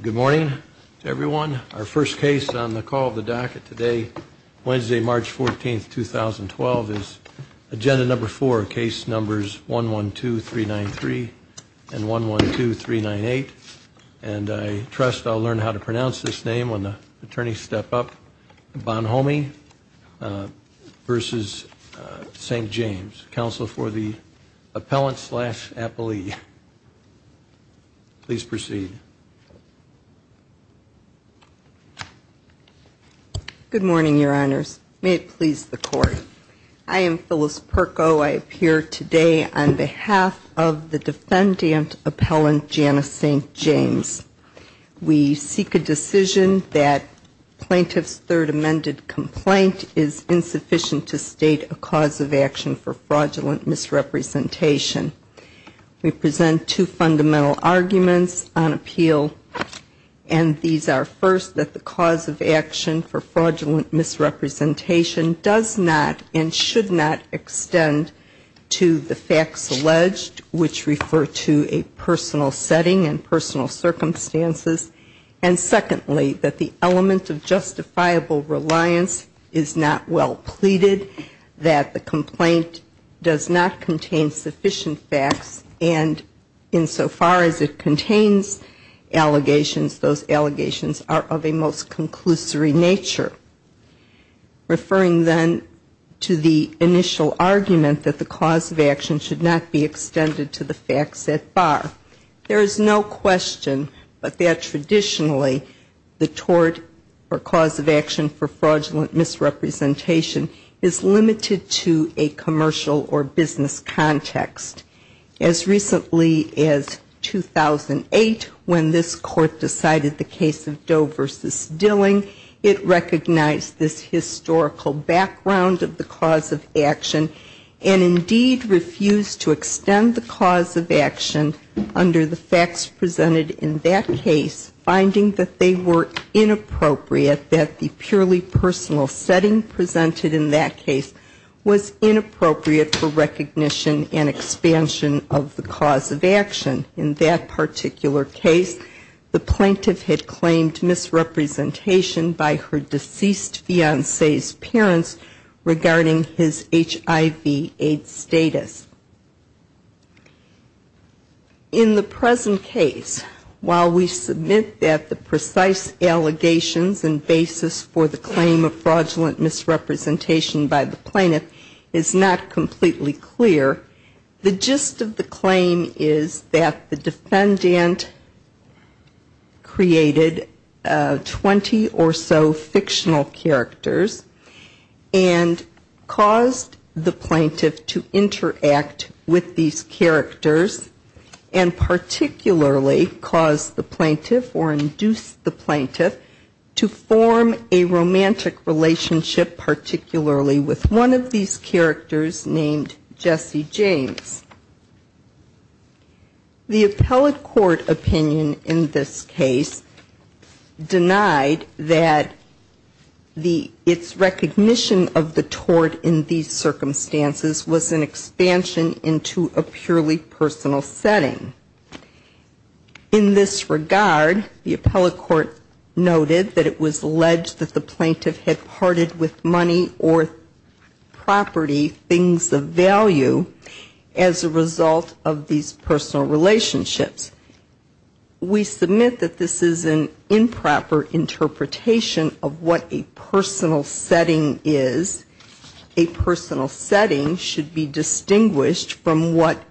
Good morning to everyone. Our first case on the call of the docket today, Wednesday, March 14, 2012, is agenda number four, case numbers 112393 and 112398. And I trust I'll learn how to pronounce this name when the attorneys step up. Bonhomme v. St. James, counsel for the appellant-slash-appellee. Please proceed. Good morning, Your Honors. May it please the Court. I am Phyllis Perko. I appear today on behalf of the defendant appellant, Janice St. James. We seek a decision that plaintiff's third amended complaint is insufficient to state a cause of action for fraudulent misrepresentation. We present two fundamental arguments on appeal, and these are, first, that the cause of action for fraudulent misrepresentation does not and should not extend to the facts alleged, which refer to a personal setting and personal circumstances. And secondly, that the element of justifiable reliance is not well pleaded, that the complaint does not contain sufficient facts, and insofar as it contains allegations, those allegations are of a most conclusory nature, referring then to the initial argument that the cause of action should not be extended to the facts that bar. There is no question but that traditionally the tort or cause of action for fraudulent misrepresentation is limited to a commercial or business context. As recently as 2008, when this Court decided the case of Doe v. Dilling, it recognized this historical background of the cause of action, and indeed refused to extend the cause of action under the facts presented in that case, finding that they were inappropriate, that the purely personal setting presented in that case was inappropriate for recognition and expansion. In the present case, while we submit that the precise allegations and basis for the claim of fraudulent misrepresentation by the plaintiff is not completely clear, the gist of the case is that the plaintiff has claimed misrepresentation by her deceased fiancé's parents regarding his HIV-AIDS status. The gist of the claim is that the defendant created 20 or so fictional characters and caused the plaintiff to interact with these characters, and particularly caused the plaintiff or induced the plaintiff to form a romantic relationship, particularly with one of these characters named Jesse James. The appellate court opinion in this case denied that the its recognition of the tort in these circumstances was an expansion into a purely personal setting. In this regard, the appellate court noted that it was alleged that the plaintiff had parted with money or property, things of value, as a result of the fact that the plaintiff was a victim of fraudulent misrepresentation. We submit that this is an improper interpretation of what a personal setting is. A personal setting should be distinguished from what,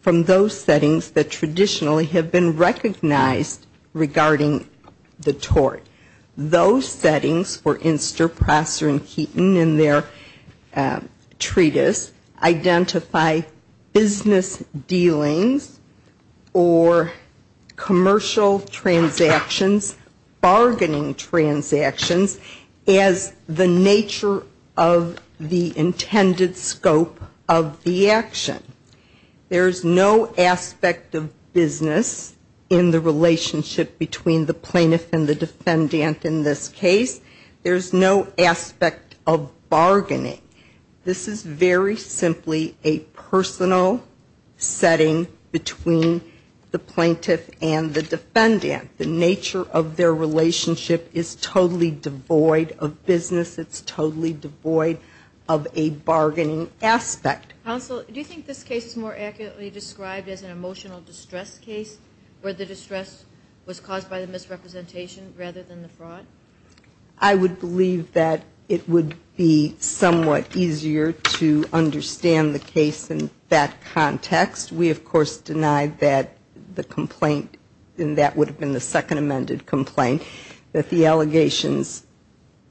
from those settings that traditionally have been recognized regarding the tort. Those settings were Inster, Prosser, and Heaton in their treatise, identify business as a result of the fact that the plaintiff was a victim of fraudulent misrepresentation. In this case, there is no aspect of business dealings or commercial transactions, bargaining transactions, as the nature of the intended scope of the action. There is no aspect of business in the relationship between the plaintiff and the defendant in this case. There is no aspect of bargaining. The nature of their relationship is totally devoid of business. It's totally devoid of a bargaining aspect. Counsel, do you think this case is more accurately described as an emotional distress case, where the distress was caused by the misrepresentation rather than the fraud? I would believe that it would be somewhat easier to understand the case in that context. We, of course, deny that the complaint, and that would have been the second amended complaint, that the allegations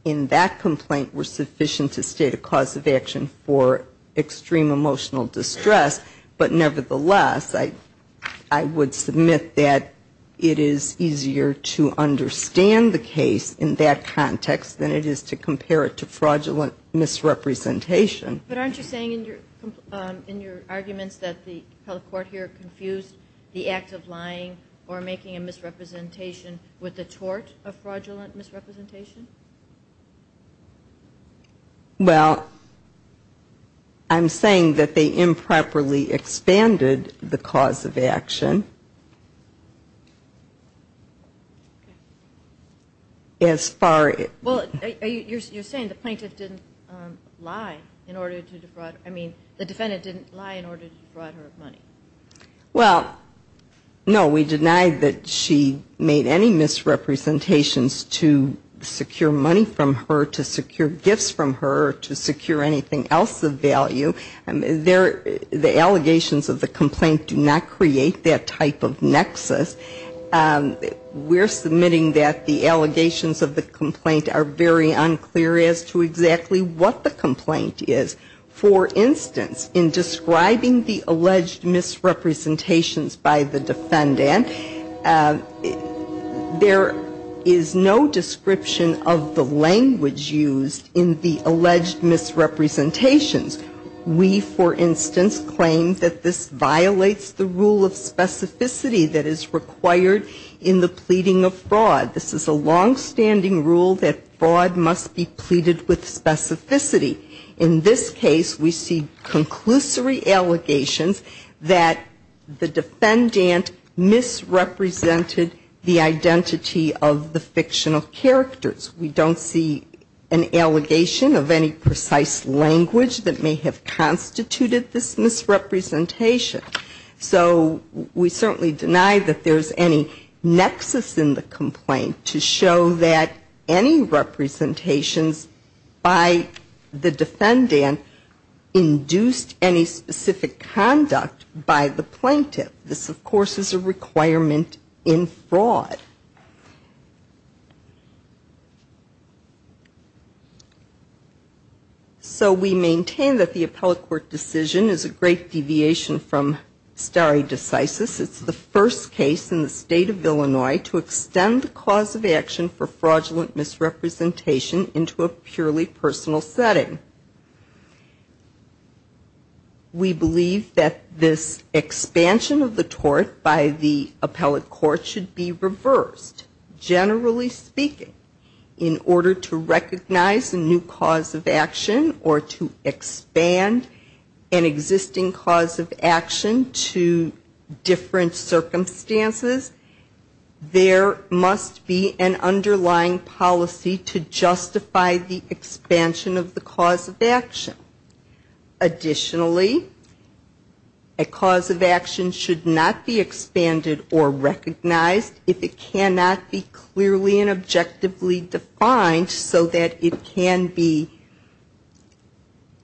in that complaint were sufficient to state a cause of action for extreme emotional distress. But nevertheless, I would submit that it is easier to understand the case in that context than it is to compare it to fraudulent misrepresentation. But aren't you saying in your arguments that the public court here confused the act of lying or making a misrepresentation with the tort of fraudulent misrepresentation? Well, I'm saying that they improperly expanded the cause of action as far as... Well, you're saying the plaintiff didn't lie in order to defraud, I mean, the defendant didn't lie in order to defraud her of money. Well, no, we deny that she made any misrepresentations to secure money from her, to secure gifts from her, to secure anything else of value. The allegations of the complaint do not create that type of nexus. We're submitting that the allegations of the complaint are very unclear as to exactly what the complaint is. For instance, in describing the alleged misrepresentations by the defendant, there is no description of the language used in the alleged misrepresentations. We, for instance, claim that this violates the rule of specificity that is required in this case. This is a longstanding rule that fraud must be pleaded with specificity. In this case, we see conclusory allegations that the defendant misrepresented the identity of the fictional characters. We don't see an allegation of any precise language that may have constituted this misrepresentation. So we certainly deny that there's any nexus in the complaint to show that any representations by the defendant induced any specific conduct by the plaintiff. This, of course, is a requirement in fraud. So we maintain that the appellate court decision is a great deviation from stare decisis. It's the first case in the state of Illinois to extend the cause of action for fraudulent misrepresentation into a purely personal setting. We believe that this expansion of the tort by the appellate court should be reversed. Generally speaking, in order to recognize a new cause of action or to expand an existing cause of action to different circumstances, there must be an underlying policy to justify the expansion of the cause of action. Additionally, a cause of action should not be expanded or recognized if it cannot be extended. It cannot be clearly and objectively defined so that it can be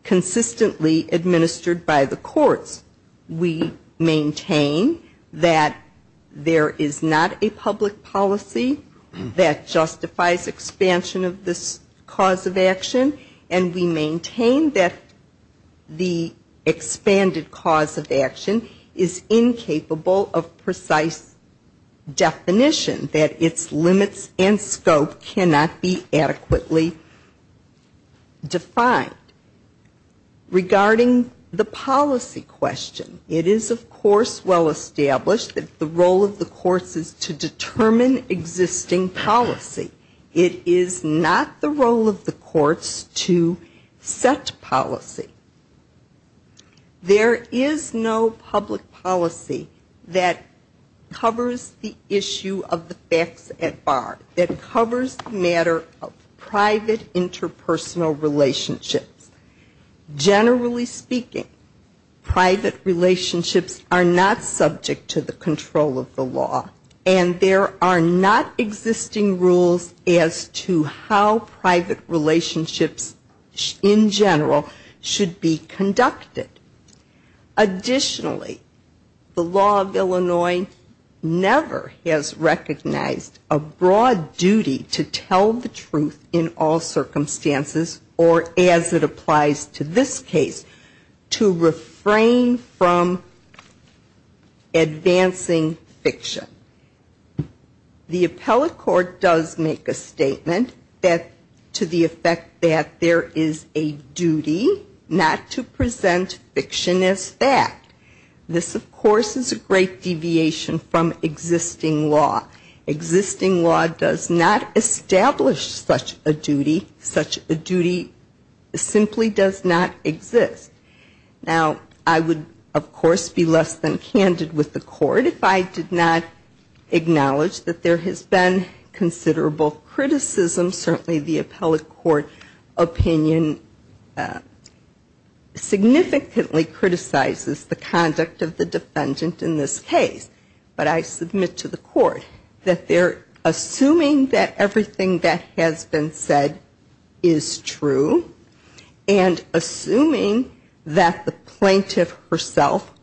consistently administered by the courts. We maintain that there is not a public policy that justifies expansion of this cause of action, and we maintain that the expanded cause of action is incapable of precise definition, that its limits and scope cannot be adequately defined. Regarding the policy question, it is, of course, well established that the role of the courts is to determine existing policy. It is not the role of the courts to set policy. There is no public policy that covers the issue of the facts at bar, that covers the matter of private interpersonal relationships. Generally speaking, private relationships are not subject to the control of the law, and there are not existing rules as to how private relationships in general should be conducted. Additionally, the law of Illinois never has recognized a broad duty to tell the truth in all circumstances, or as it applies to this case, to refrain from advancing fiction. The appellate court does make a statement to the effect that there is a duty not to present fiction as fact. This, of course, is a great deviation from existing law. Existing law does not establish such a duty. Such a duty simply does not exist. Now, I would, of course, be less than candid with the court if I did not acknowledge that there has been considerable criticism. Certainly the appellate court opinion significantly criticizes the conduct of the defendant in this case. But I submit to the court that they're assuming that everything that has been said is true, and assuming that there is no evidence that the plaintiff herself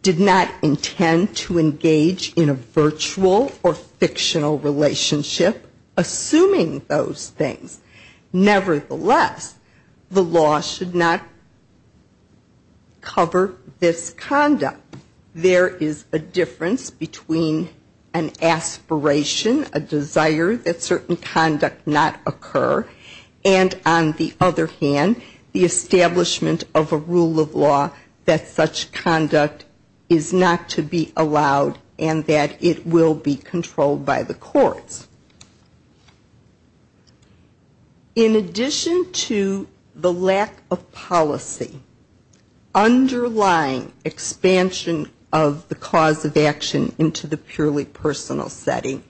did not intend to engage in a virtual or fictional relationship, assuming those things. Nevertheless, the law should not cover this conduct. There is a difference between an aspiration, a desire that certain conduct not occur, and on the other hand, the establishment of a rule of law that such conduct is not to be allowed, and that it will be controlled by the courts. In addition to the lack of policy underlying expansion of the cause of action into the purely personal setting,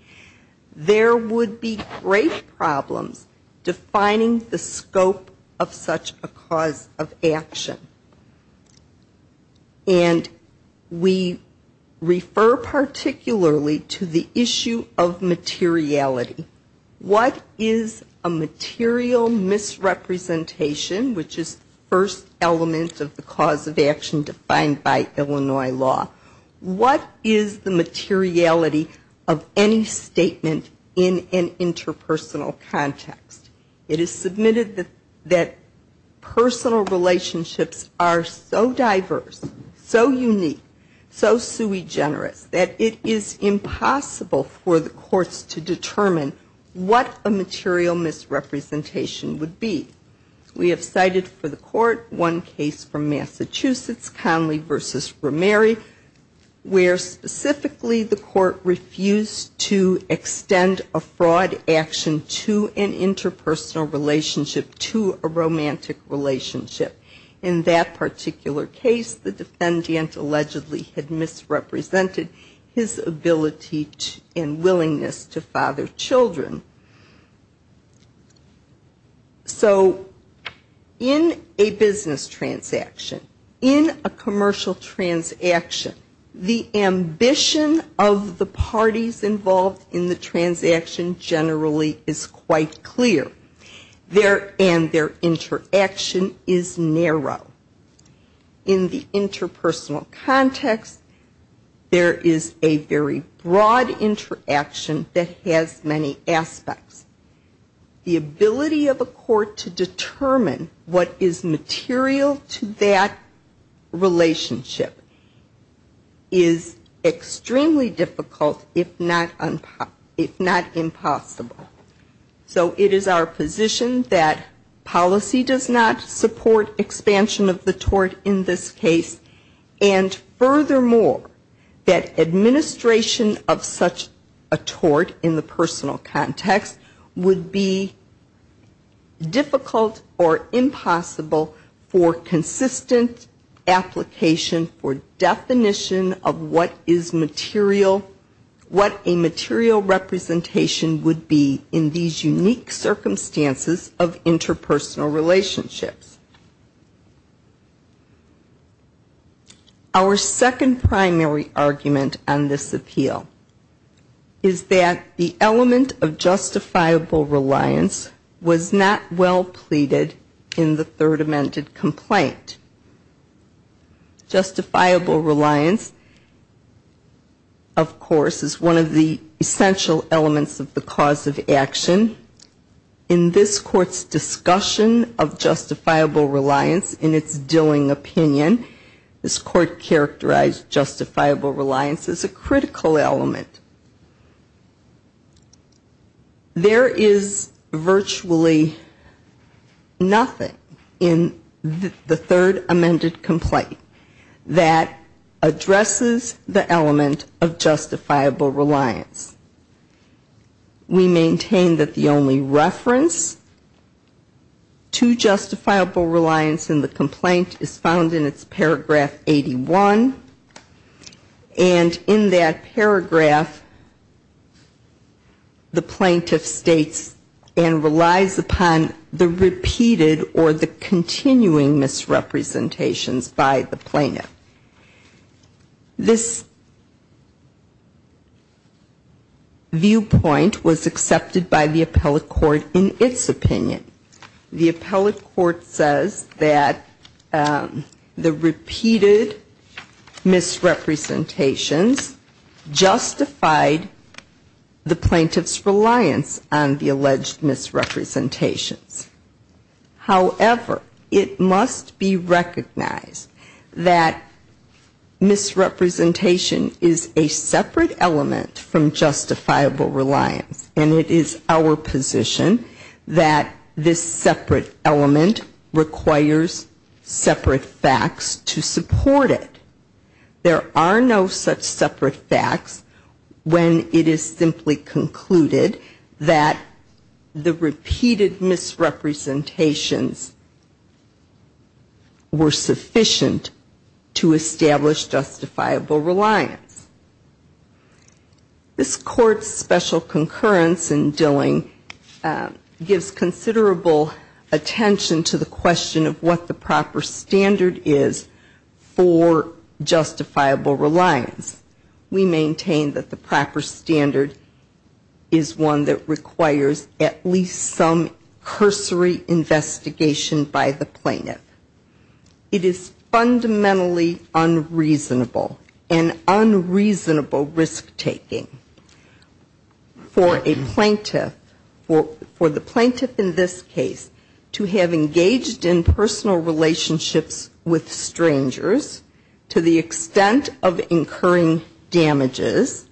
there would be great problems defining the scope of such a cause of action. And we refer particularly to the issue of materiality. What is a material misrepresentation, which is the first element of the cause of action defined by Illinois law? What is the materiality of any statement in an interpretation? It is submitted that personal relationships are so diverse, so unique, so sui generis, that it is impossible for the courts to determine what a material misrepresentation would be. We have cited for the court one case from Massachusetts, Conley v. Rameri, where specifically the court refused to extend a fraud action to an interpersonal relationship, to a romantic relationship. In that particular case, the defendant allegedly had misrepresented his ability and willingness to father children. So in a business transaction, in a commercial transaction, the ambition of the parties involved in the transaction generally is quite clear, and their interaction is narrow. In the interpersonal context, there is a very broad interaction that has many aspects. The ability of a court to determine what is material to that relationship is extremely difficult, if not impossible. So it is our position that policy does not support expansion of the tort in this case, and furthermore, that administration of such a tort in the personal context would be difficult or impossible for consistent application for definition of what is material, what a tort is, and what a romantic relationship is. Our second primary argument on this appeal is that the element of justifiable reliance was not well pleaded in the Third Amended Complaint. Justifiable reliance, of course, is one of the essential elements of the cause of action. In this Court's discussion of justifiable reliance in its dealing opinion, this Court characterized justifiable reliance as a critical element. There is virtually nothing in the Third Amended Complaint that addresses the element of justifiable reliance. We maintain that the only reference to justifiable reliance in the complaint is found in its paragraph 81, and in that paragraph, the plaintiff states and relies upon the repeated or the continuing misrepresentations by the plaintiff. This viewpoint was accepted by the appellate court in its opinion. The appellate court says that the repeated misrepresentations justified the plaintiff's reliance on the alleged misrepresentations. However, it must be recognized that the plaintiff's misrepresentation is a separate element from justifiable reliance, and it is our position that this separate element requires separate facts to support it. There are no such separate facts when it is simply concluded that the repeated misrepresentations were sufficient to establish justifiable reliance. This Court's special concurrence in dealing gives considerable attention to the question of what the proper standard is for justifiable reliance. We maintain that the proper standard is one that requires at least some cursory investigation of the misrepresentation by the plaintiff. It is fundamentally unreasonable, an unreasonable risk taking for a plaintiff, for the plaintiff in this case, to have engaged in personal relationships with strangers to the extent of incurring damages,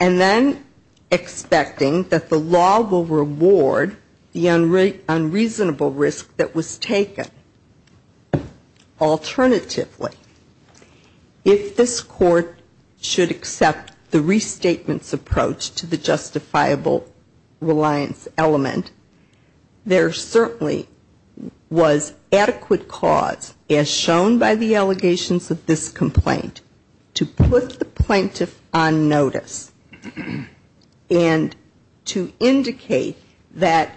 and then expecting that the law will reward the unreasonable risk that was taken. Alternatively, if this Court should accept the restatement's approach to the justifiable reliance element, there certainly was adequate cause, as shown by the allegations of this complaint, to put the plaintiff on notice and to indicate that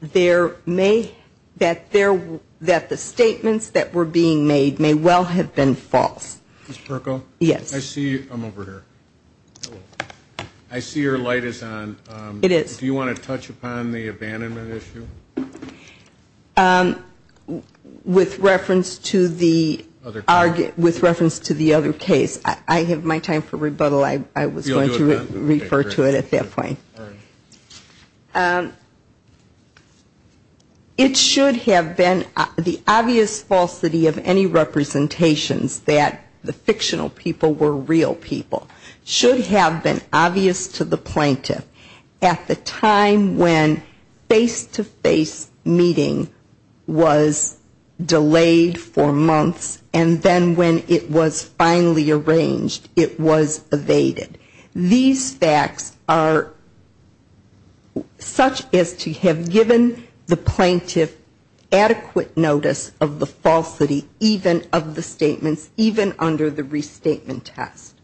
there may be some other reason for the plaintiff to be on notice. And I would say that the statements that were being made may well have been false. I see your light is on. Do you want to touch upon the abandonment issue? With reference to the other case. I have my time for rebuttal. I was going to refer to it at that point. It should have been the obvious falsity of any representations that the fictional people were real people, should have been obvious to the plaintiff at the time when face-to-face meeting was delayed for months, and then when it was finally arranged, it was evaded. These facts are such as to have given the plaintiff the opportunity to be on notice. And to have given the plaintiff adequate notice of the falsity, even of the statements, even under the restatement test.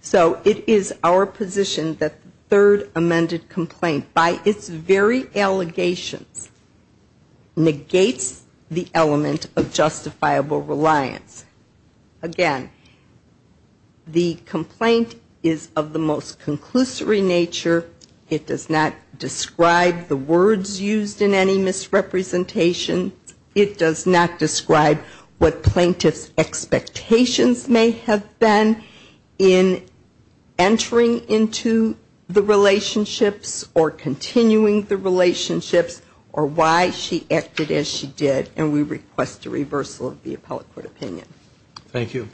So it is our position that the third amended complaint, by its very allegations, negates the element of justifiable reliance. Again, the complaint is of the most conclusory nature. It does not describe the words used in any misrepresentation. It does not describe what plaintiff's expectations may have been in entering into the relationships, or continuing the relationships, or why she acted as she did. And we request a reversal of the appellate court opinion. Thank you.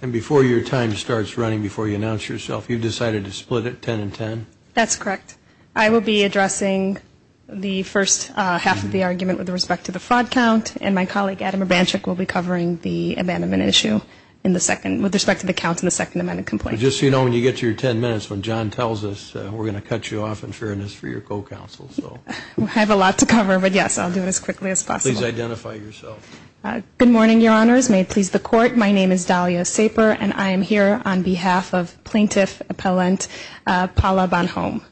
And before your time starts running, before you announce yourself, you've decided to split it 10 and 10? That's correct. I will be addressing the first half of the argument with respect to the fraud count, and my colleague, Adam Abanchik, will be covering the abandonment issue with respect to the count in the second amended complaint. Just so you know, when you get to your 10 minutes, when John tells us, we're going to cut you off in fairness for your co-counsel. We have a lot to cover, but yes, I'll do it as quickly as possible. Please identify yourself. Good morning, Your Honors. May it please the Court, my name is Dahlia Saper, and I am here on behalf of Plaintiff Appellant Paula Bonhomme.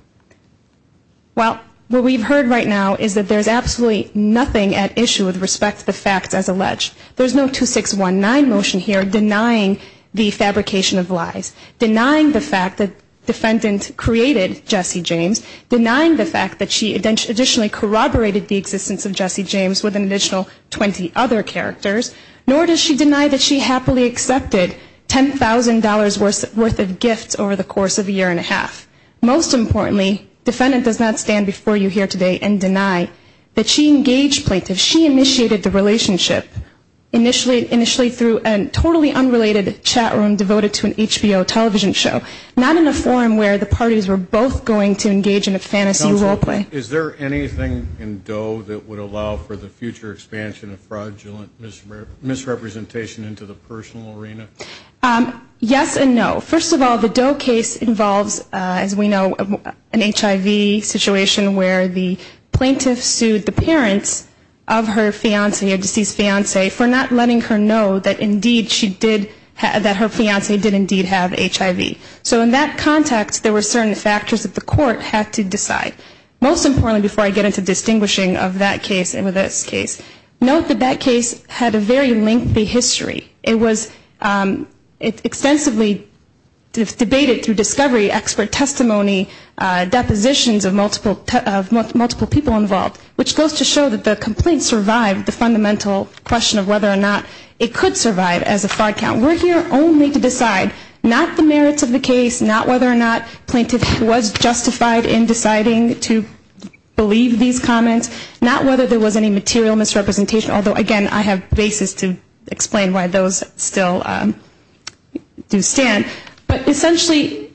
Well, what we've heard right now is that there's absolutely nothing at issue with respect to the facts as alleged. There's no 2619 motion here denying the fabrication of lies, denying the fact that defendant created Jesse James, denying the fact that she additionally corroborated the existence of Jesse James with an additional 20 other characters, nor does she deny that she happily accepted $10,000 worth of gifts over the course of a year and a half. Most importantly, defendant does not stand before you here today and deny that she engaged plaintiffs. She initiated the relationship initially through a totally unrelated chat room devoted to an HBO television show, not in a fantasy role play. Counsel, is there anything in Doe that would allow for the future expansion of fraudulent misrepresentation into the personal arena? Yes and no. First of all, the Doe case involves, as we know, an HIV situation where the plaintiff sued the parents of her fiancee or deceased fiancee for not letting her know that indeed she did, that her fiancee did indeed have HIV. So in that context, there were certain factors that the court had to decide. Most importantly, before I get into distinguishing of that case and this case, note that that case had a very lengthy history. It was extensively debated through discovery, expert testimony, depositions of multiple people involved, which goes to show that the complaint survived the fundamental question of whether or not it could survive as a fraud count. We're here only to decide not the merits of the case, not whether or not plaintiff was justified in deciding to believe these comments, not whether there was any material misrepresentation, although again, I have basis to explain why those still do stand. But essentially,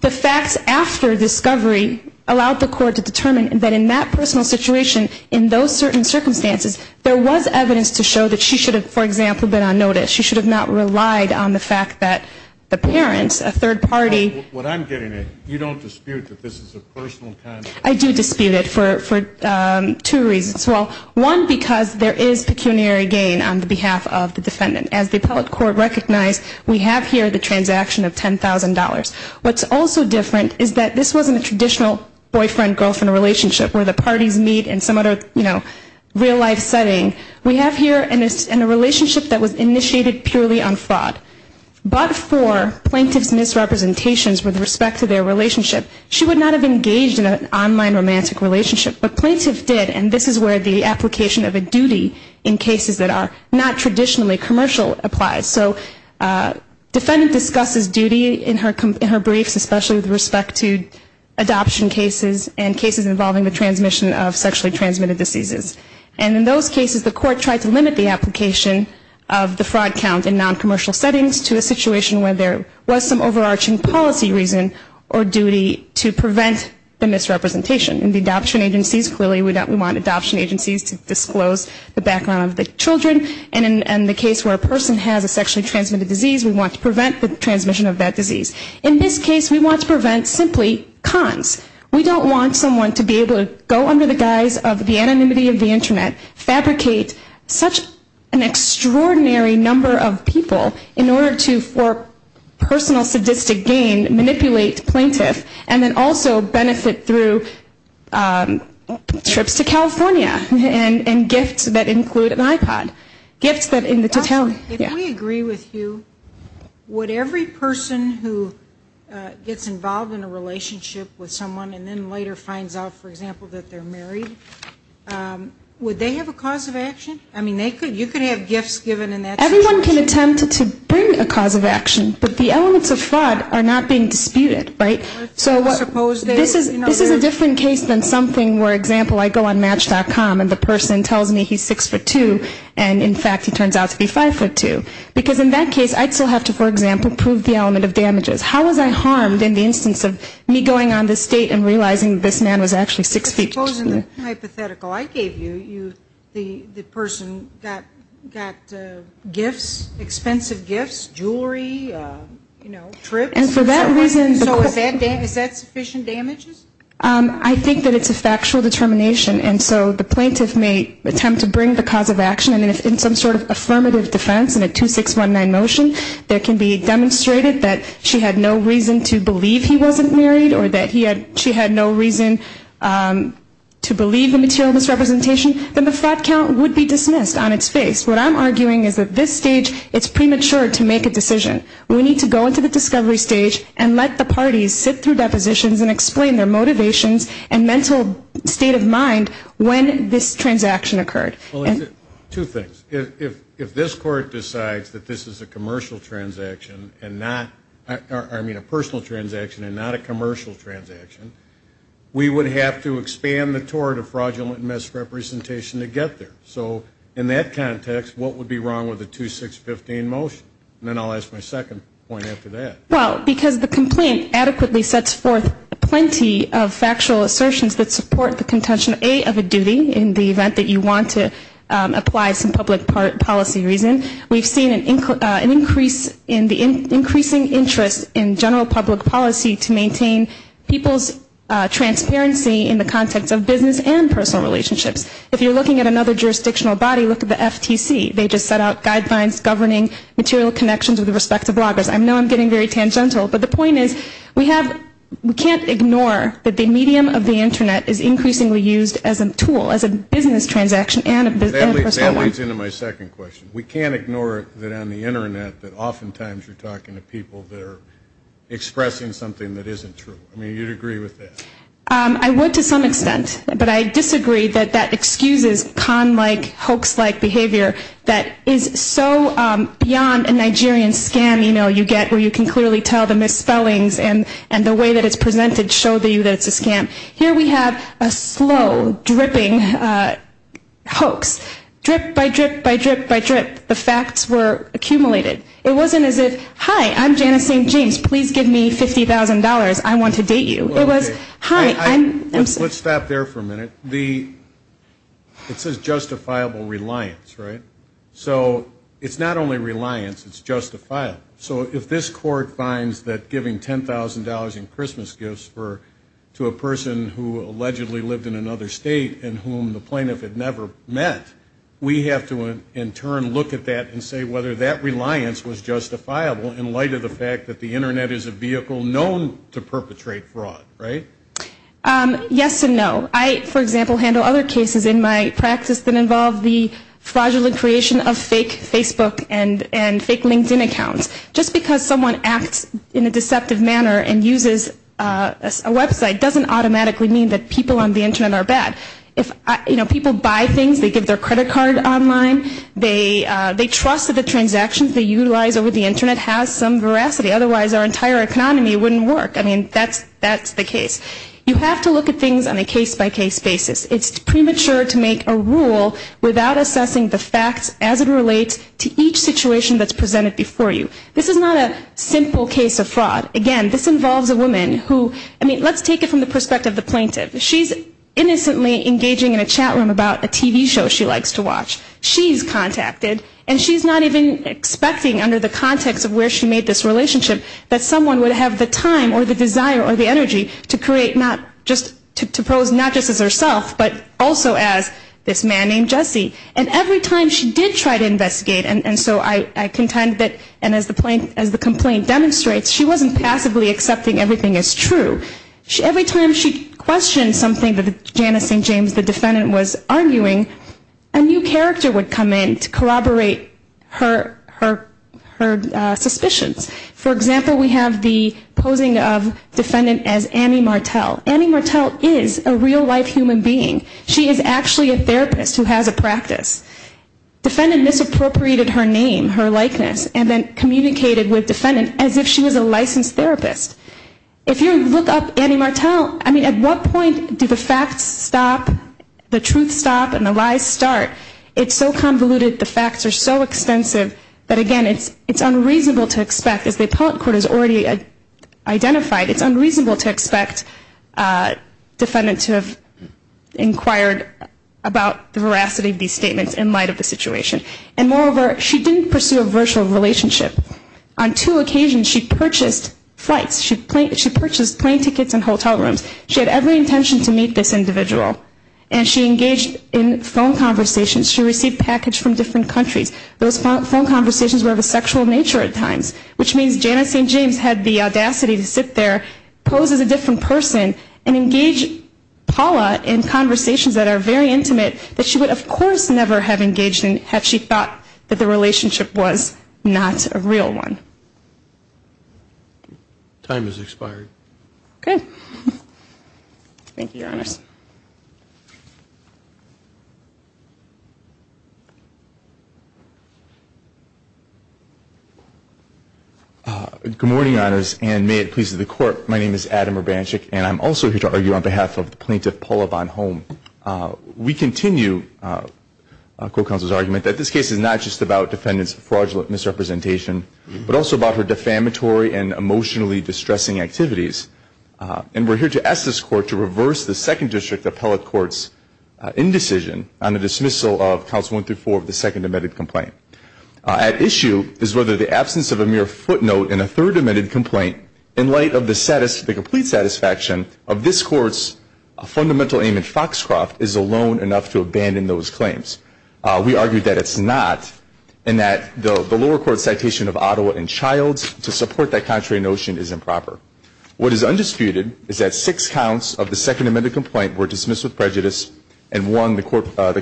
the facts after discovery allowed the court to determine that in that personal situation, in those certain circumstances, there was evidence to show that she should have, for example, been on notice. She should have not relied on the fact that the parents, a third party. What I'm getting at, you don't dispute that this is a personal comment? I do dispute it for two reasons. Well, one, because there is pecuniary gain on the behalf of the defendant. As the appellate court recognized, we have here the transaction of $10,000. What's also different is that this wasn't a traditional boyfriend-girlfriend relationship where the parties meet in some other, you know, real life setting. We have here in a relationship that was initiated purely on fraud. But for plaintiff's misrepresentations with respect to their relationship, she would not have engaged in an online romantic relationship. But plaintiff did, and this is where the application of a duty in cases that are not traditionally commercial applies. So defendant discusses duty in her briefs, especially with respect to adoption cases and cases involving the transmission of the fraud count in noncommercial settings to a situation where there was some overarching policy reason or duty to prevent the misrepresentation. In the adoption agencies, clearly we want adoption agencies to disclose the background of the children. And in the case where a person has a sexually transmitted disease, we want to prevent the transmission of that disease. In this case, we want to prevent simply cons. We don't want someone to be able to go under the guise of the child and have to go through an extraordinary number of people in order to for personal sadistic gain manipulate plaintiff and then also benefit through trips to California and gifts that include an iPod. Gifts that in the totality. If we agree with you, would every person who gets involved in a relationship with someone and then later finds out, for example, that they're married, would they have a cause of action? I mean, they could. You could have gifts that are just given in that situation. Everyone can attempt to bring a cause of action, but the elements of fraud are not being disputed, right? So this is a different case than something where, for example, I go on match.com and the person tells me he's 6'2 and in fact he turns out to be 5'2. Because in that case, I still have to, for example, prove the element of damages. How was I harmed in the instance of me going on this date and realizing this man was actually 6'2? I suppose in the hypothetical I gave you, the person got gifts, expensive gifts, jewelry, you know, trips. And for that reason, is that sufficient damages? I think that it's a factual determination. And so the plaintiff may attempt to bring the cause of action. And in some sort of affirmative defense in a 2619 motion, there can be demonstrated that she had no reason to believe he wasn't married or that she had no reason to believe the material misrepresentation, then the fraud count would be dismissed on its face. What I'm arguing is that this stage, it's premature to make a decision. We need to go into the discovery stage and let the parties sit through depositions and explain their motivations and mental state of mind when this transaction occurred. Two things. If this court decides that this is a commercial transaction and not, I mean a personal transaction and not a public transaction, we would have to expand the tort of fraudulent misrepresentation to get there. So in that context, what would be wrong with a 2615 motion? And then I'll ask my second point after that. Well, because the complaint adequately sets forth plenty of factual assertions that support the contention, A, of a duty in the event that you want to apply some public policy reason. We've seen an increase in the increasing interest in general public policy to maintain people's transparency in the context of business and personal relationships. If you're looking at another jurisdictional body, look at the FTC. They just set out guidelines governing material connections with respect to bloggers. I know I'm getting very tangential, but the point is we have, we can't ignore that the medium of the Internet is increasingly used as a tool, as a business transaction and a personal one. I mean, you'd agree with that? I would to some extent, but I disagree that that excuses con-like, hoax-like behavior that is so beyond a Nigerian scam, you know, you get where you can clearly tell the misspellings and the way that it's presented show that it's a scam. Here we have a slow, dripping hoax. Drip by drip by drip by drip, the facts were accumulated. It wasn't as if, hi, I'm Janice St. James, please give me $50,000 I want to date you. Let's stop there for a minute. It says justifiable reliance, right? So it's not only reliance, it's justifiable. So if this court finds that giving $10,000 in Christmas gifts to a person who allegedly lived in another state and whom the plaintiff had never met, we have to in turn look at that and say whether that reliance was justifiable in light of the fact that the Internet is a vehicle known to perpetrate fraud, right? Yes and no. I, for example, handle other cases in my practice that involve the fraudulent creation of fake Facebook and fake LinkedIn accounts. Just because someone acts in a deceptive manner and uses a website doesn't automatically mean that people on the Internet are bad. You know, people buy things, they give their credit card online, they trust that the transactions they utilize over the Internet has some veracity, otherwise our entire economy wouldn't work. I mean, that's the case. You have to look at things on a case-by-case basis. It's premature to make a rule without assessing the facts as it relates to each situation that's presented before you. This is not a simple case of fraud. Again, this involves a woman who, I mean, let's take it from the perspective of the plaintiff. She's innocently engaging in a chat room about a TV show she likes to watch. She's contacted and she's not even expecting under the context of where she made this relationship that someone would have the time or the desire or the energy to create, not just to pose not just as herself, but also as this man named Jesse. And every time she did try to investigate, and so I contend that, and as the complaint demonstrates, she wasn't passively accepting everything as true. Every time she questioned something that the Janice St. James, the defendant, was arguing, a new character would come in to corroborate her suspicions. For example, we have the posing of defendant as Annie Martel. Annie Martel is a real-life human being. She is actually a therapist who has a practice. Defendant misappropriated her name, her likeness, and then communicated with defendant as if she was a licensed therapist. If you look up Annie Martel, I mean, at what point do the facts stop, the truth stop, and the lies start? It's so extensive that, again, it's unreasonable to expect, as the appellate court has already identified, it's unreasonable to expect defendant to have inquired about the veracity of these statements in light of the situation. And moreover, she didn't pursue a virtual relationship. On two occasions, she purchased flights. She purchased plane tickets and hotel rooms. She had every intention to meet this individual, and she engaged in phone conversations. She received package from different countries, but she didn't receive any of those phone conversations were of a sexual nature at times, which means Janice St. James had the audacity to sit there, pose as a different person, and engage Paula in conversations that are very intimate that she would, of course, never have engaged in had she thought that the relationship was not a real one. Time has expired. Good morning, Your Honors, and may it please the Court. My name is Adam Urbanchik, and I'm also here to argue on behalf of the plaintiff, Paula Bonhomme. We continue a court counsel's argument that this case is not just about defendant's fraudulent misrepresentation, but also about her defamatory and emotionally distressing activities. And we're here to ask this Court to reverse the Second District Appellate Court's indecision on the dismissal of counts one through four of the second amended complaint. At issue is whether the absence of a mere footnote in a third amended complaint, in light of the complete satisfaction of this Court's fundamental aim in Foxcroft, is alone enough to abandon those claims. We argue that it's not, and that the lower court's citation of Ottawa and Childs to support that contrary notion is improper. What is undisputed is that six counts of the second amended complaint were dismissed with prejudice, and one, the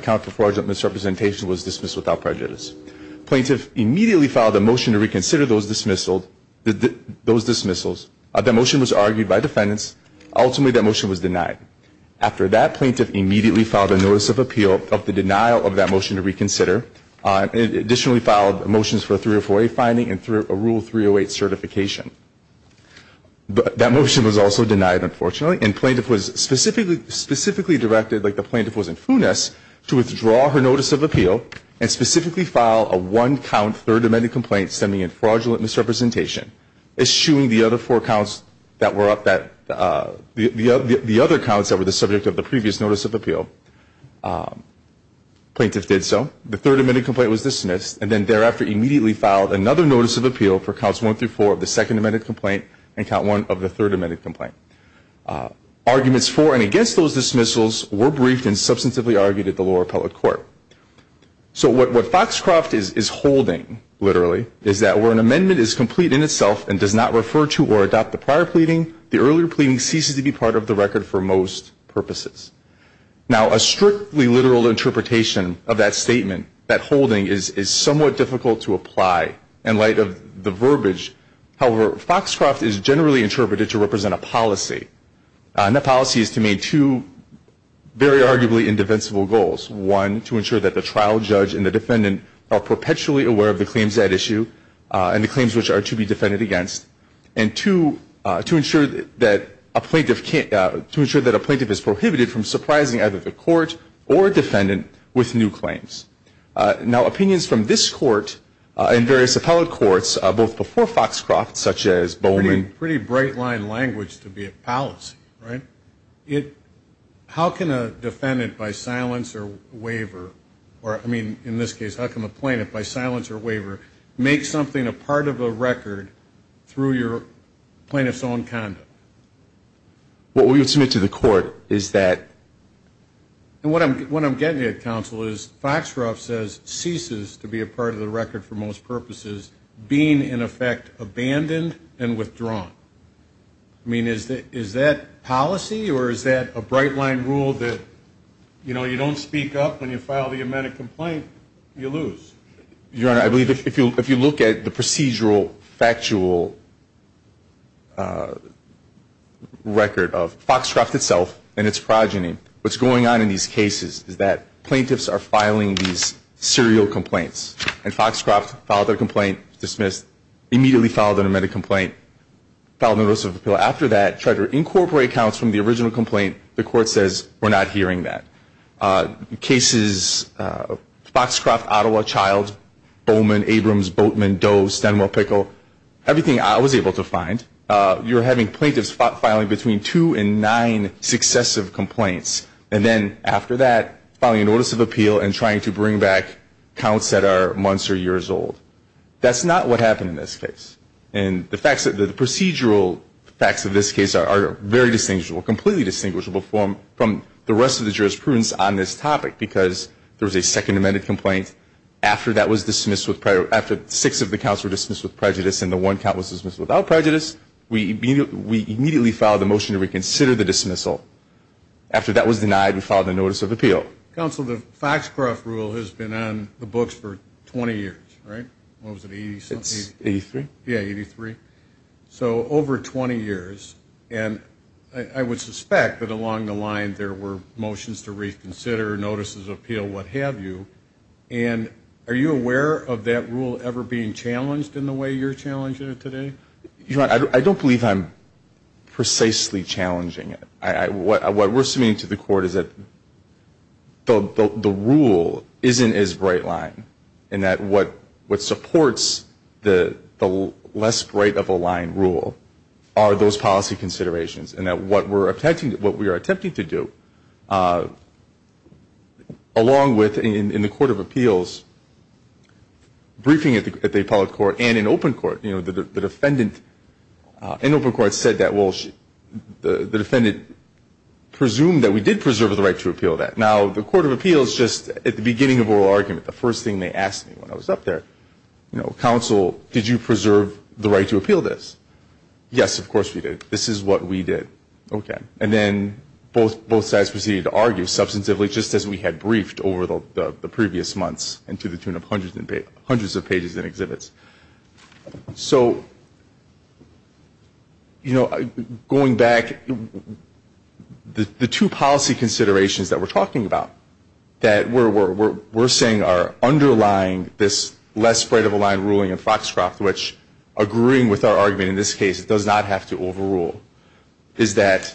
count for fraudulent misrepresentation, was dismissed without prejudice. Plaintiff immediately filed a motion to reconsider those dismissals. That motion was argued by defendants. Ultimately, that motion was denied. After that, plaintiff immediately filed a notice of appeal of the denial of that motion to reconsider, and additionally filed motions for a 304A finding and a Rule 308 certification. That motion was also denied, unfortunately, and plaintiff was specifically directed, like the plaintiff was in Funes, to withdraw her notice of appeal and specifically file a one-count third amended complaint stemming in fraudulent misrepresentation, eschewing the other four counts that were up that, the other counts that were the subject of the previous notice of appeal. Plaintiff did so. The third amended complaint was dismissed, and then thereafter immediately filed another notice of appeal for counts one through four of the second amended complaint and count one of the third amended complaint. Arguments for and against those dismissals were briefed and substantively argued at the lower appellate court. So what Foxcroft is holding, literally, is that where an amendment is complete in itself and does not refer to or adopt the prior pleading, the earlier pleading ceases to be part of the record for most purposes. Now, a strictly literal interpretation of that statement, that holding, is somewhat difficult to apply in light of the verbiage of that statement. However, Foxcroft is generally interpreted to represent a policy. And that policy is to make two very arguably indefensible goals. One, to ensure that the trial judge and the defendant are perpetually aware of the claims at issue and the claims which are to be defended against. And two, to ensure that a plaintiff can't, to ensure that a plaintiff is prohibited from surprising either the court or defendant with new claims. Now, opinions from this court and various appellate courts, both before Foxcroft, such as Bowman. Pretty bright line language to be a policy, right? How can a defendant, by silence or waiver, or I mean, in this case, how can a plaintiff, by silence or waiver, make something a part of a record through your plaintiff's own conduct? What we would submit to the court is that. And what I'm getting at, counsel, is Foxcroft says, ceases to be a part of the record for most purposes, being in effect abandoned and withdrawn. I mean, is that policy or is that a bright line rule that, you know, you don't speak up when you file the amendment complaint, you lose? Your Honor, I believe if you look at the procedural, factual record of Foxcroft itself and its progeny, you'll see that what's going on in these cases is that plaintiffs are filing these serial complaints. And Foxcroft filed a complaint, dismissed, immediately filed an amendment complaint, filed notice of appeal. After that, tried to incorporate accounts from the original complaint. The court says, we're not hearing that. Cases, Foxcroft, Ottawa, Childs, Bowman, Abrams, Boatman, Doe, Stenwell, Pickle, everything I was able to find. You're having plaintiffs filing between two and nine successive complaints. And then after that, filing a notice of appeal and trying to bring back counts that are months or years old. That's not what happened in this case. And the procedural facts of this case are very distinguishable, completely distinguishable from the rest of the jurisprudence on this topic, because there was a second amended complaint. After that was dismissed, after six of the counts were dismissed with prejudice and the one count was dismissed without prejudice, we immediately filed a motion to reconsider the dismissal. After that was denied, we filed a notice of appeal. Counsel, the Foxcroft rule has been on the books for 20 years, right? It's 83? Yeah, 83. So over 20 years. And I would suspect that along the line there were motions to reconsider, notices of appeal, what have you. And are you aware of that rule ever being challenged in the way you're challenging it today? Your Honor, I don't believe I'm precisely challenging it. What we're submitting to the court is that the rule isn't as bright line, and that what supports the less bright of a line rule are those policy considerations, and that what we're attempting to do, along with in the court of appeals, briefing at the appellate court and in open court, you know, the defendant in open court said that, well, the defendant presumed that we did preserve the right to appeal that. Now, the court of appeals just at the beginning of oral argument, the first thing they asked me when I was up there, you know, did you preserve the right to appeal this? Yes, of course we did. This is what we did. Okay. And then both sides proceeded to argue substantively, just as we had briefed over the previous months, and to the tune of hundreds of pages in exhibits. So, you know, going back, the two policy considerations that we're talking about that we're saying are underlying this less bright of a line ruling in Foxcroft, which, agreeing with our argument in this case, does not have to overrule, is that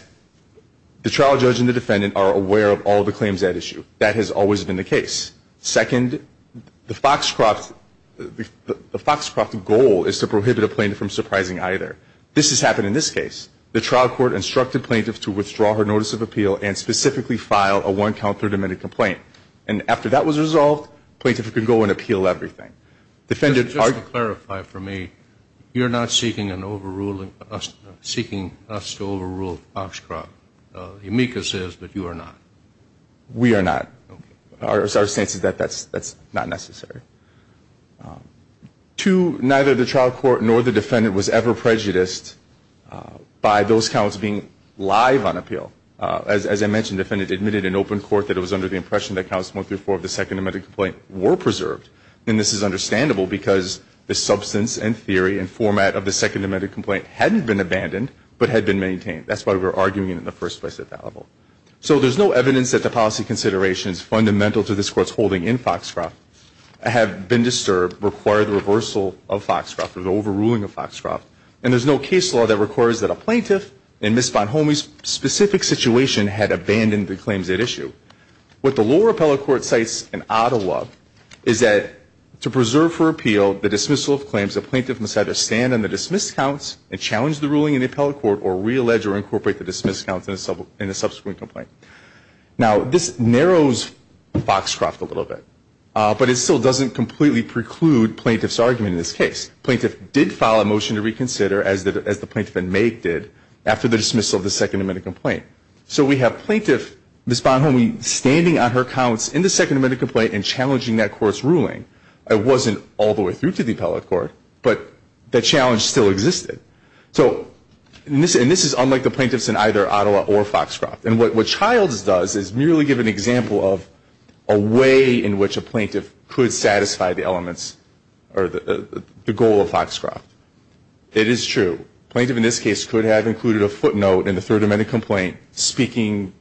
the trial judge and the defendant are aware of all the claims at issue. That has always been the case. Second, the Foxcroft goal is to prohibit a plaintiff from surprising either. This has happened in this case. The trial court instructed plaintiffs to withdraw her notice of appeal and specifically file a one-count third-amended complaint. And after that was resolved, plaintiffs could go and appeal everything. Just to clarify for me, you're not seeking an overruling, seeking us to overrule Foxcroft. The amicus says that you are not. We are not. Our sense is that that's not necessary. Two, neither the trial court nor the defendant was ever prejudiced by those counts being live on appeal. As I mentioned, the defendant admitted in open court that it was under the impression that counts one through four of the second-amended complaint were preserved. And this is understandable because the substance and theory and format of the second-amended complaint hadn't been abandoned but had been maintained. That's why we're arguing it in the first place at that level. So there's no evidence that the policy considerations fundamental to this Court's holding in Foxcroft have been disturbed, require the reversal of Foxcroft or the overruling of Foxcroft. And there's no case law that requires that a plaintiff in Ms. Bonhomie's specific situation had abandoned the claims at issue. What the lower appellate court cites in Ottawa is that to preserve for appeal the dismissal of claims, a plaintiff must either stand on the dismissed counts and challenge the ruling in the appellate court or reallege or incorporate the dismissed counts in a subsequent complaint. Now, this narrows Foxcroft a little bit, but it still doesn't completely preclude plaintiff's argument in this case. Plaintiff did file a motion to reconsider, as the plaintiff in May did, after the dismissal of the second-amended complaint. So we have plaintiff, Ms. Bonhomie, standing on her counts in the second-amended complaint and challenging that court's ruling. It wasn't all the way through to the appellate court, but the challenge still existed. So this is unlike the plaintiffs in either Ottawa or Foxcroft. And what Childs does is merely give an example of a way in which a plaintiff could satisfy the elements or the goal of Foxcroft. It is true. Plaintiff in this case could have included a footnote in the third-amended complaint speaking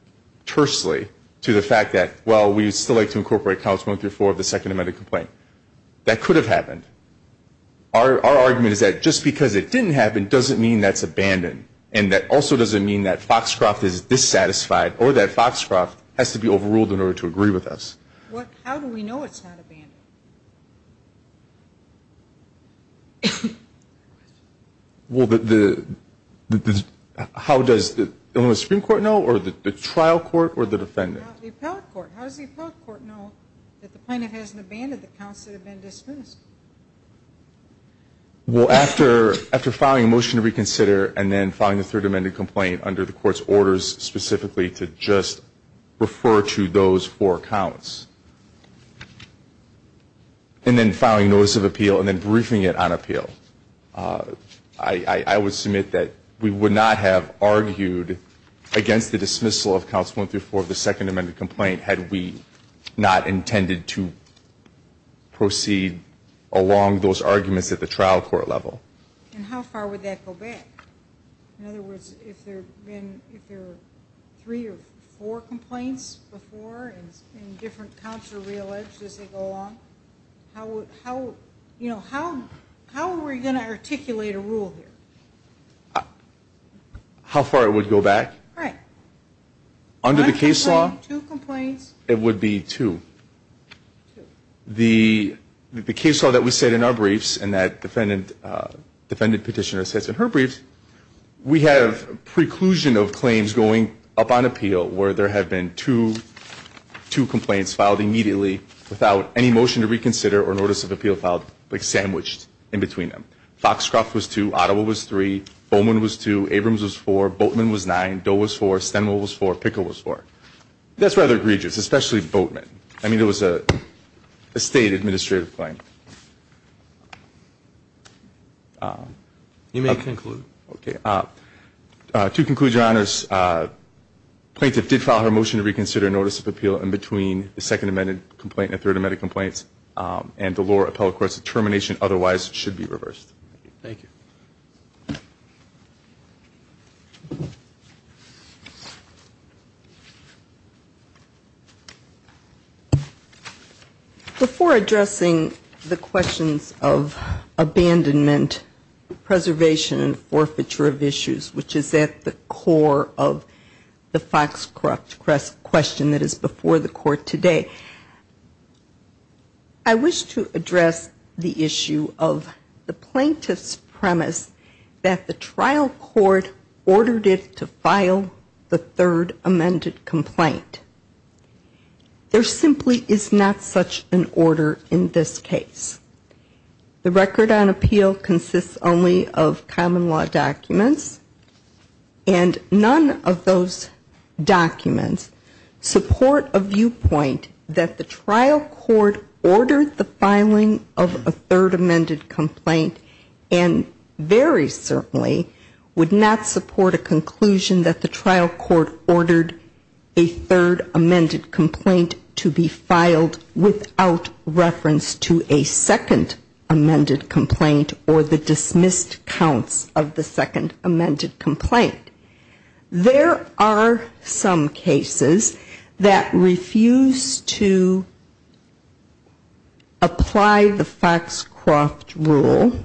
tersely to the fact that, well, we'd still like to incorporate counts one through four of the second-amended complaint. That could have happened. Our argument is that just because it didn't happen doesn't mean that's abandoned. And that also doesn't mean that Foxcroft is dissatisfied or that Foxcroft has to be overruled in order to agree with us. How do we know it's not abandoned? How does the Supreme Court know or the trial court or the defendant? The appellate court. How does the appellate court know that the plaintiff hasn't abandoned the counts that have been dismissed? Well, after filing a motion to reconsider and then filing the third-amended complaint under the court's orders specifically to just refer to those four counts, and then filing notice of appeal and briefing it on appeal, I would submit that we would not have argued against the dismissal of counts one through four of the second-amended complaint had we not intended to proceed along those arguments at the trial court level. And how far would that go back? In other words, if there are three or four complaints before and different counts are re-alleged as they go along, how would we articulate a rule here? How far it would go back? Right. Under the case law, it would be two. The case law that we set in our briefs and that preclusion of claims going up on appeal where there have been two complaints filed immediately without any motion to reconsider or notice of appeal filed, like sandwiched in between them. Foxcroft was two. Ottawa was three. Bowman was two. Abrams was four. Boatman was nine. Doe was four. Stenwald was four. Pickle was four. That's rather egregious, especially Boatman. I mean, it was a State administrative claim. You may conclude. Okay. To conclude, Your Honors, plaintiff did file her motion to reconsider notice of appeal in between the second-amended complaint and third-amended complaints. And the lower appellate court's determination otherwise should be reversed. Thank you. Before addressing the questions of abandonment, preservation and forfeiture of issues, which is at the core of the Foxcroft question that is before the Court today, I wish to address the issue of the plaintiff's premise that the trial court ordered it to file the third-amended complaint. There simply is not such an order in this case. The record on appeal consists only of common law documents, and none of those documents support a viewpoint that the trial court ordered the filing of a third-amended complaint. And very certainly would not support a conclusion that the trial court ordered a third-amended complaint to be filed without reference to a second-amended complaint or the dismissed counts of the second-amended complaint. There are some cases that refuse to apply the Foxcroft rule.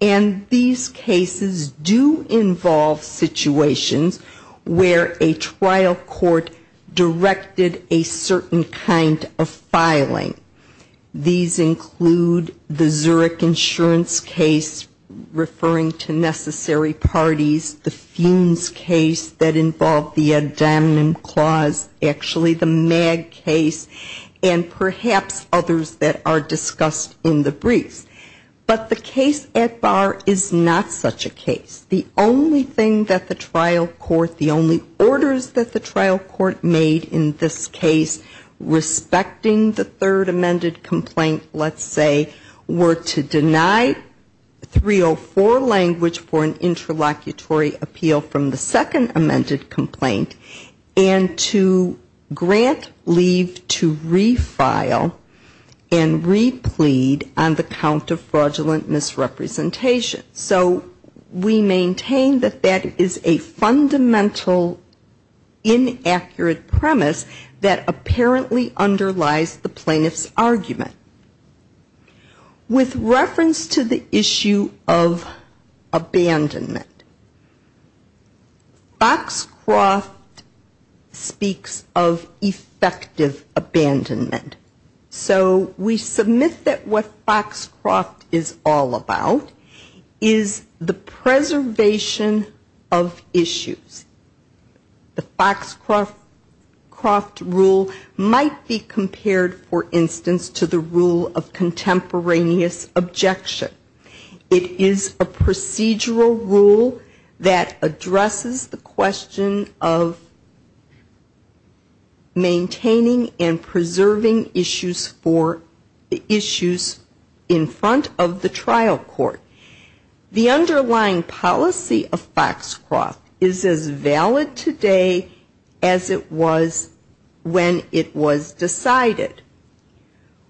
And these cases do involve situations where a trial court directed a certain kind of filing. These include the Zurich insurance case referring to necessary parties, the Funes case that involved the ad hominem clause, actually the Mag case, and the Ad Bar is not such a case. The only thing that the trial court, the only orders that the trial court made in this case respecting the third-amended complaint, let's say, were to deny 304 language for an interlocutory appeal from the second-amended complaint, and to grant leave to refile and replead on the count of fraudulent misrepresentation. So we maintain that that is a fundamental inaccurate premise that apparently underlies the plaintiff's argument. With reference to the issue of abandonment, Foxcroft speaks of effective abandonment. So we submit that what Foxcroft is all about is the preservation of issues. The Foxcroft rule might be compared, for instance, to the rule of contemporaneous objection. It is a procedural rule that addresses the question of maintaining and preserving issues for the issues in front of the trial court. The underlying policy of Foxcroft is as valid today as it was when it was decided.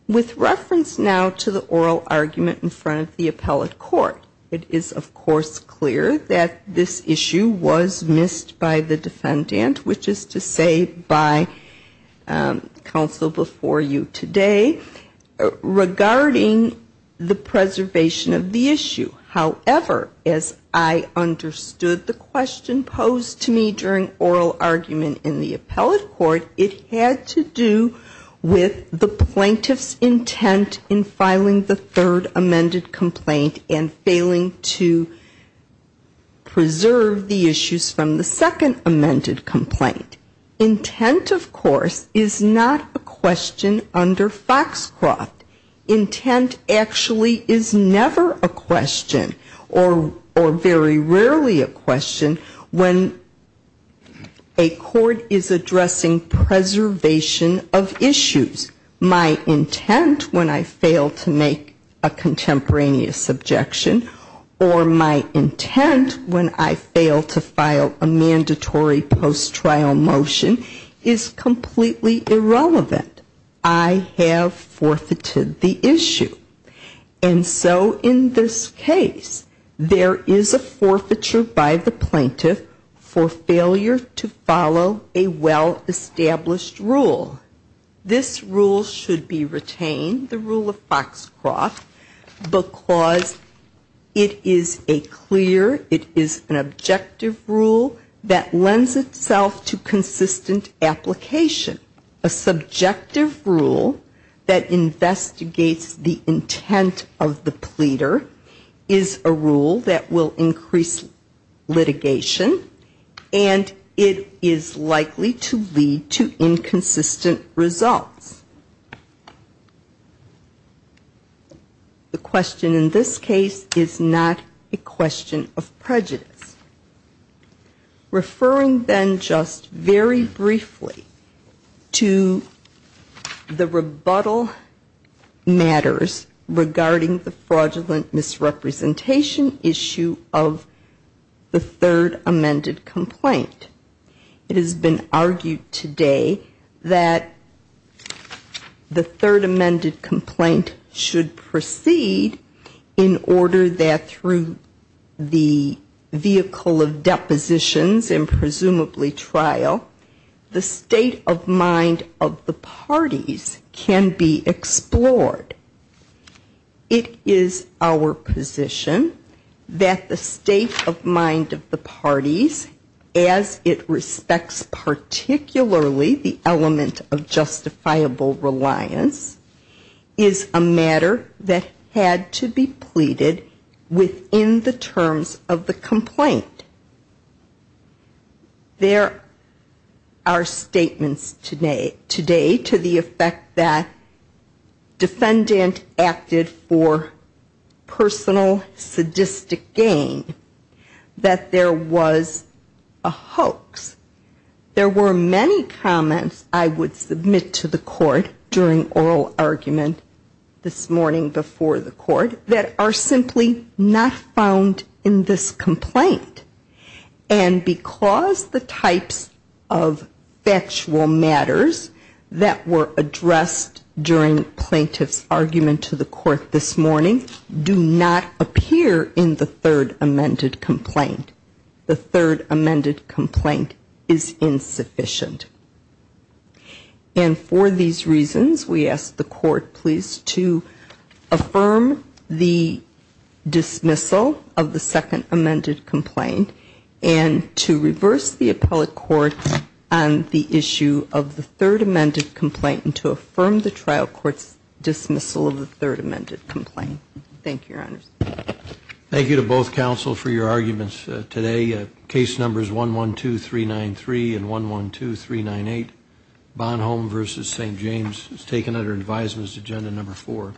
With reference now to the oral argument in front of the appellate court, it is, of course, clear that this issue was missed by the defendant, which is to say by counsel before you today, regarding the preservation of the issue. However, as I understood the question posed to me during oral argument in the appellate court, it had to do with the plaintiff's intent in filing the complaint and failing to preserve the issues from the second amended complaint. Intent, of course, is not a question under Foxcroft. Intent actually is never a question or very rarely a question when a court is addressing preservation of issues. My intent, when I fail to make a contemporaneous objection, is to fail to file a mandatory post-trial motion is completely irrelevant. I have forfeited the issue. And so in this case, there is a forfeiture by the plaintiff for failure to follow a well-established rule. This rule should be followed. It is a clear, it is an objective rule that lends itself to consistent application. A subjective rule that investigates the intent of the pleader is a rule that will increase litigation, and it is likely to lead to inconsistent results. The question in this case is whether the plaintiff's intent is not a question of prejudice. Referring then just very briefly to the rebuttal matters regarding the fraudulent misrepresentation issue of the third amended complaint. It has been argued today that the third amended complaint should proceed in order that the state of mind of the parties can be explored. It is our position that the state of mind of the parties, as it respects particularly the element of justifiable reliance, is a matter that had to be pleaded in order for the plaintiff's intent to be explored within the terms of the complaint. There are statements today to the effect that defendant acted for personal sadistic gain, that there was a hoax. There were many comments I would submit to the plaintiff that were not found in this complaint. And because the types of factual matters that were addressed during the plaintiff's argument to the court this morning do not appear in the third amended complaint. The third amended complaint is insufficient. And for these reasons, we ask the court please to affirm the dismissal of the second amended complaint and to reverse the appellate court on the issue of the third amended complaint and to affirm the trial court's dismissal of the third amended complaint. Thank you, Your Honors. Thank you to both counsel for your arguments today. Case numbers 112393 and 112393. And that brings us to agenda number four.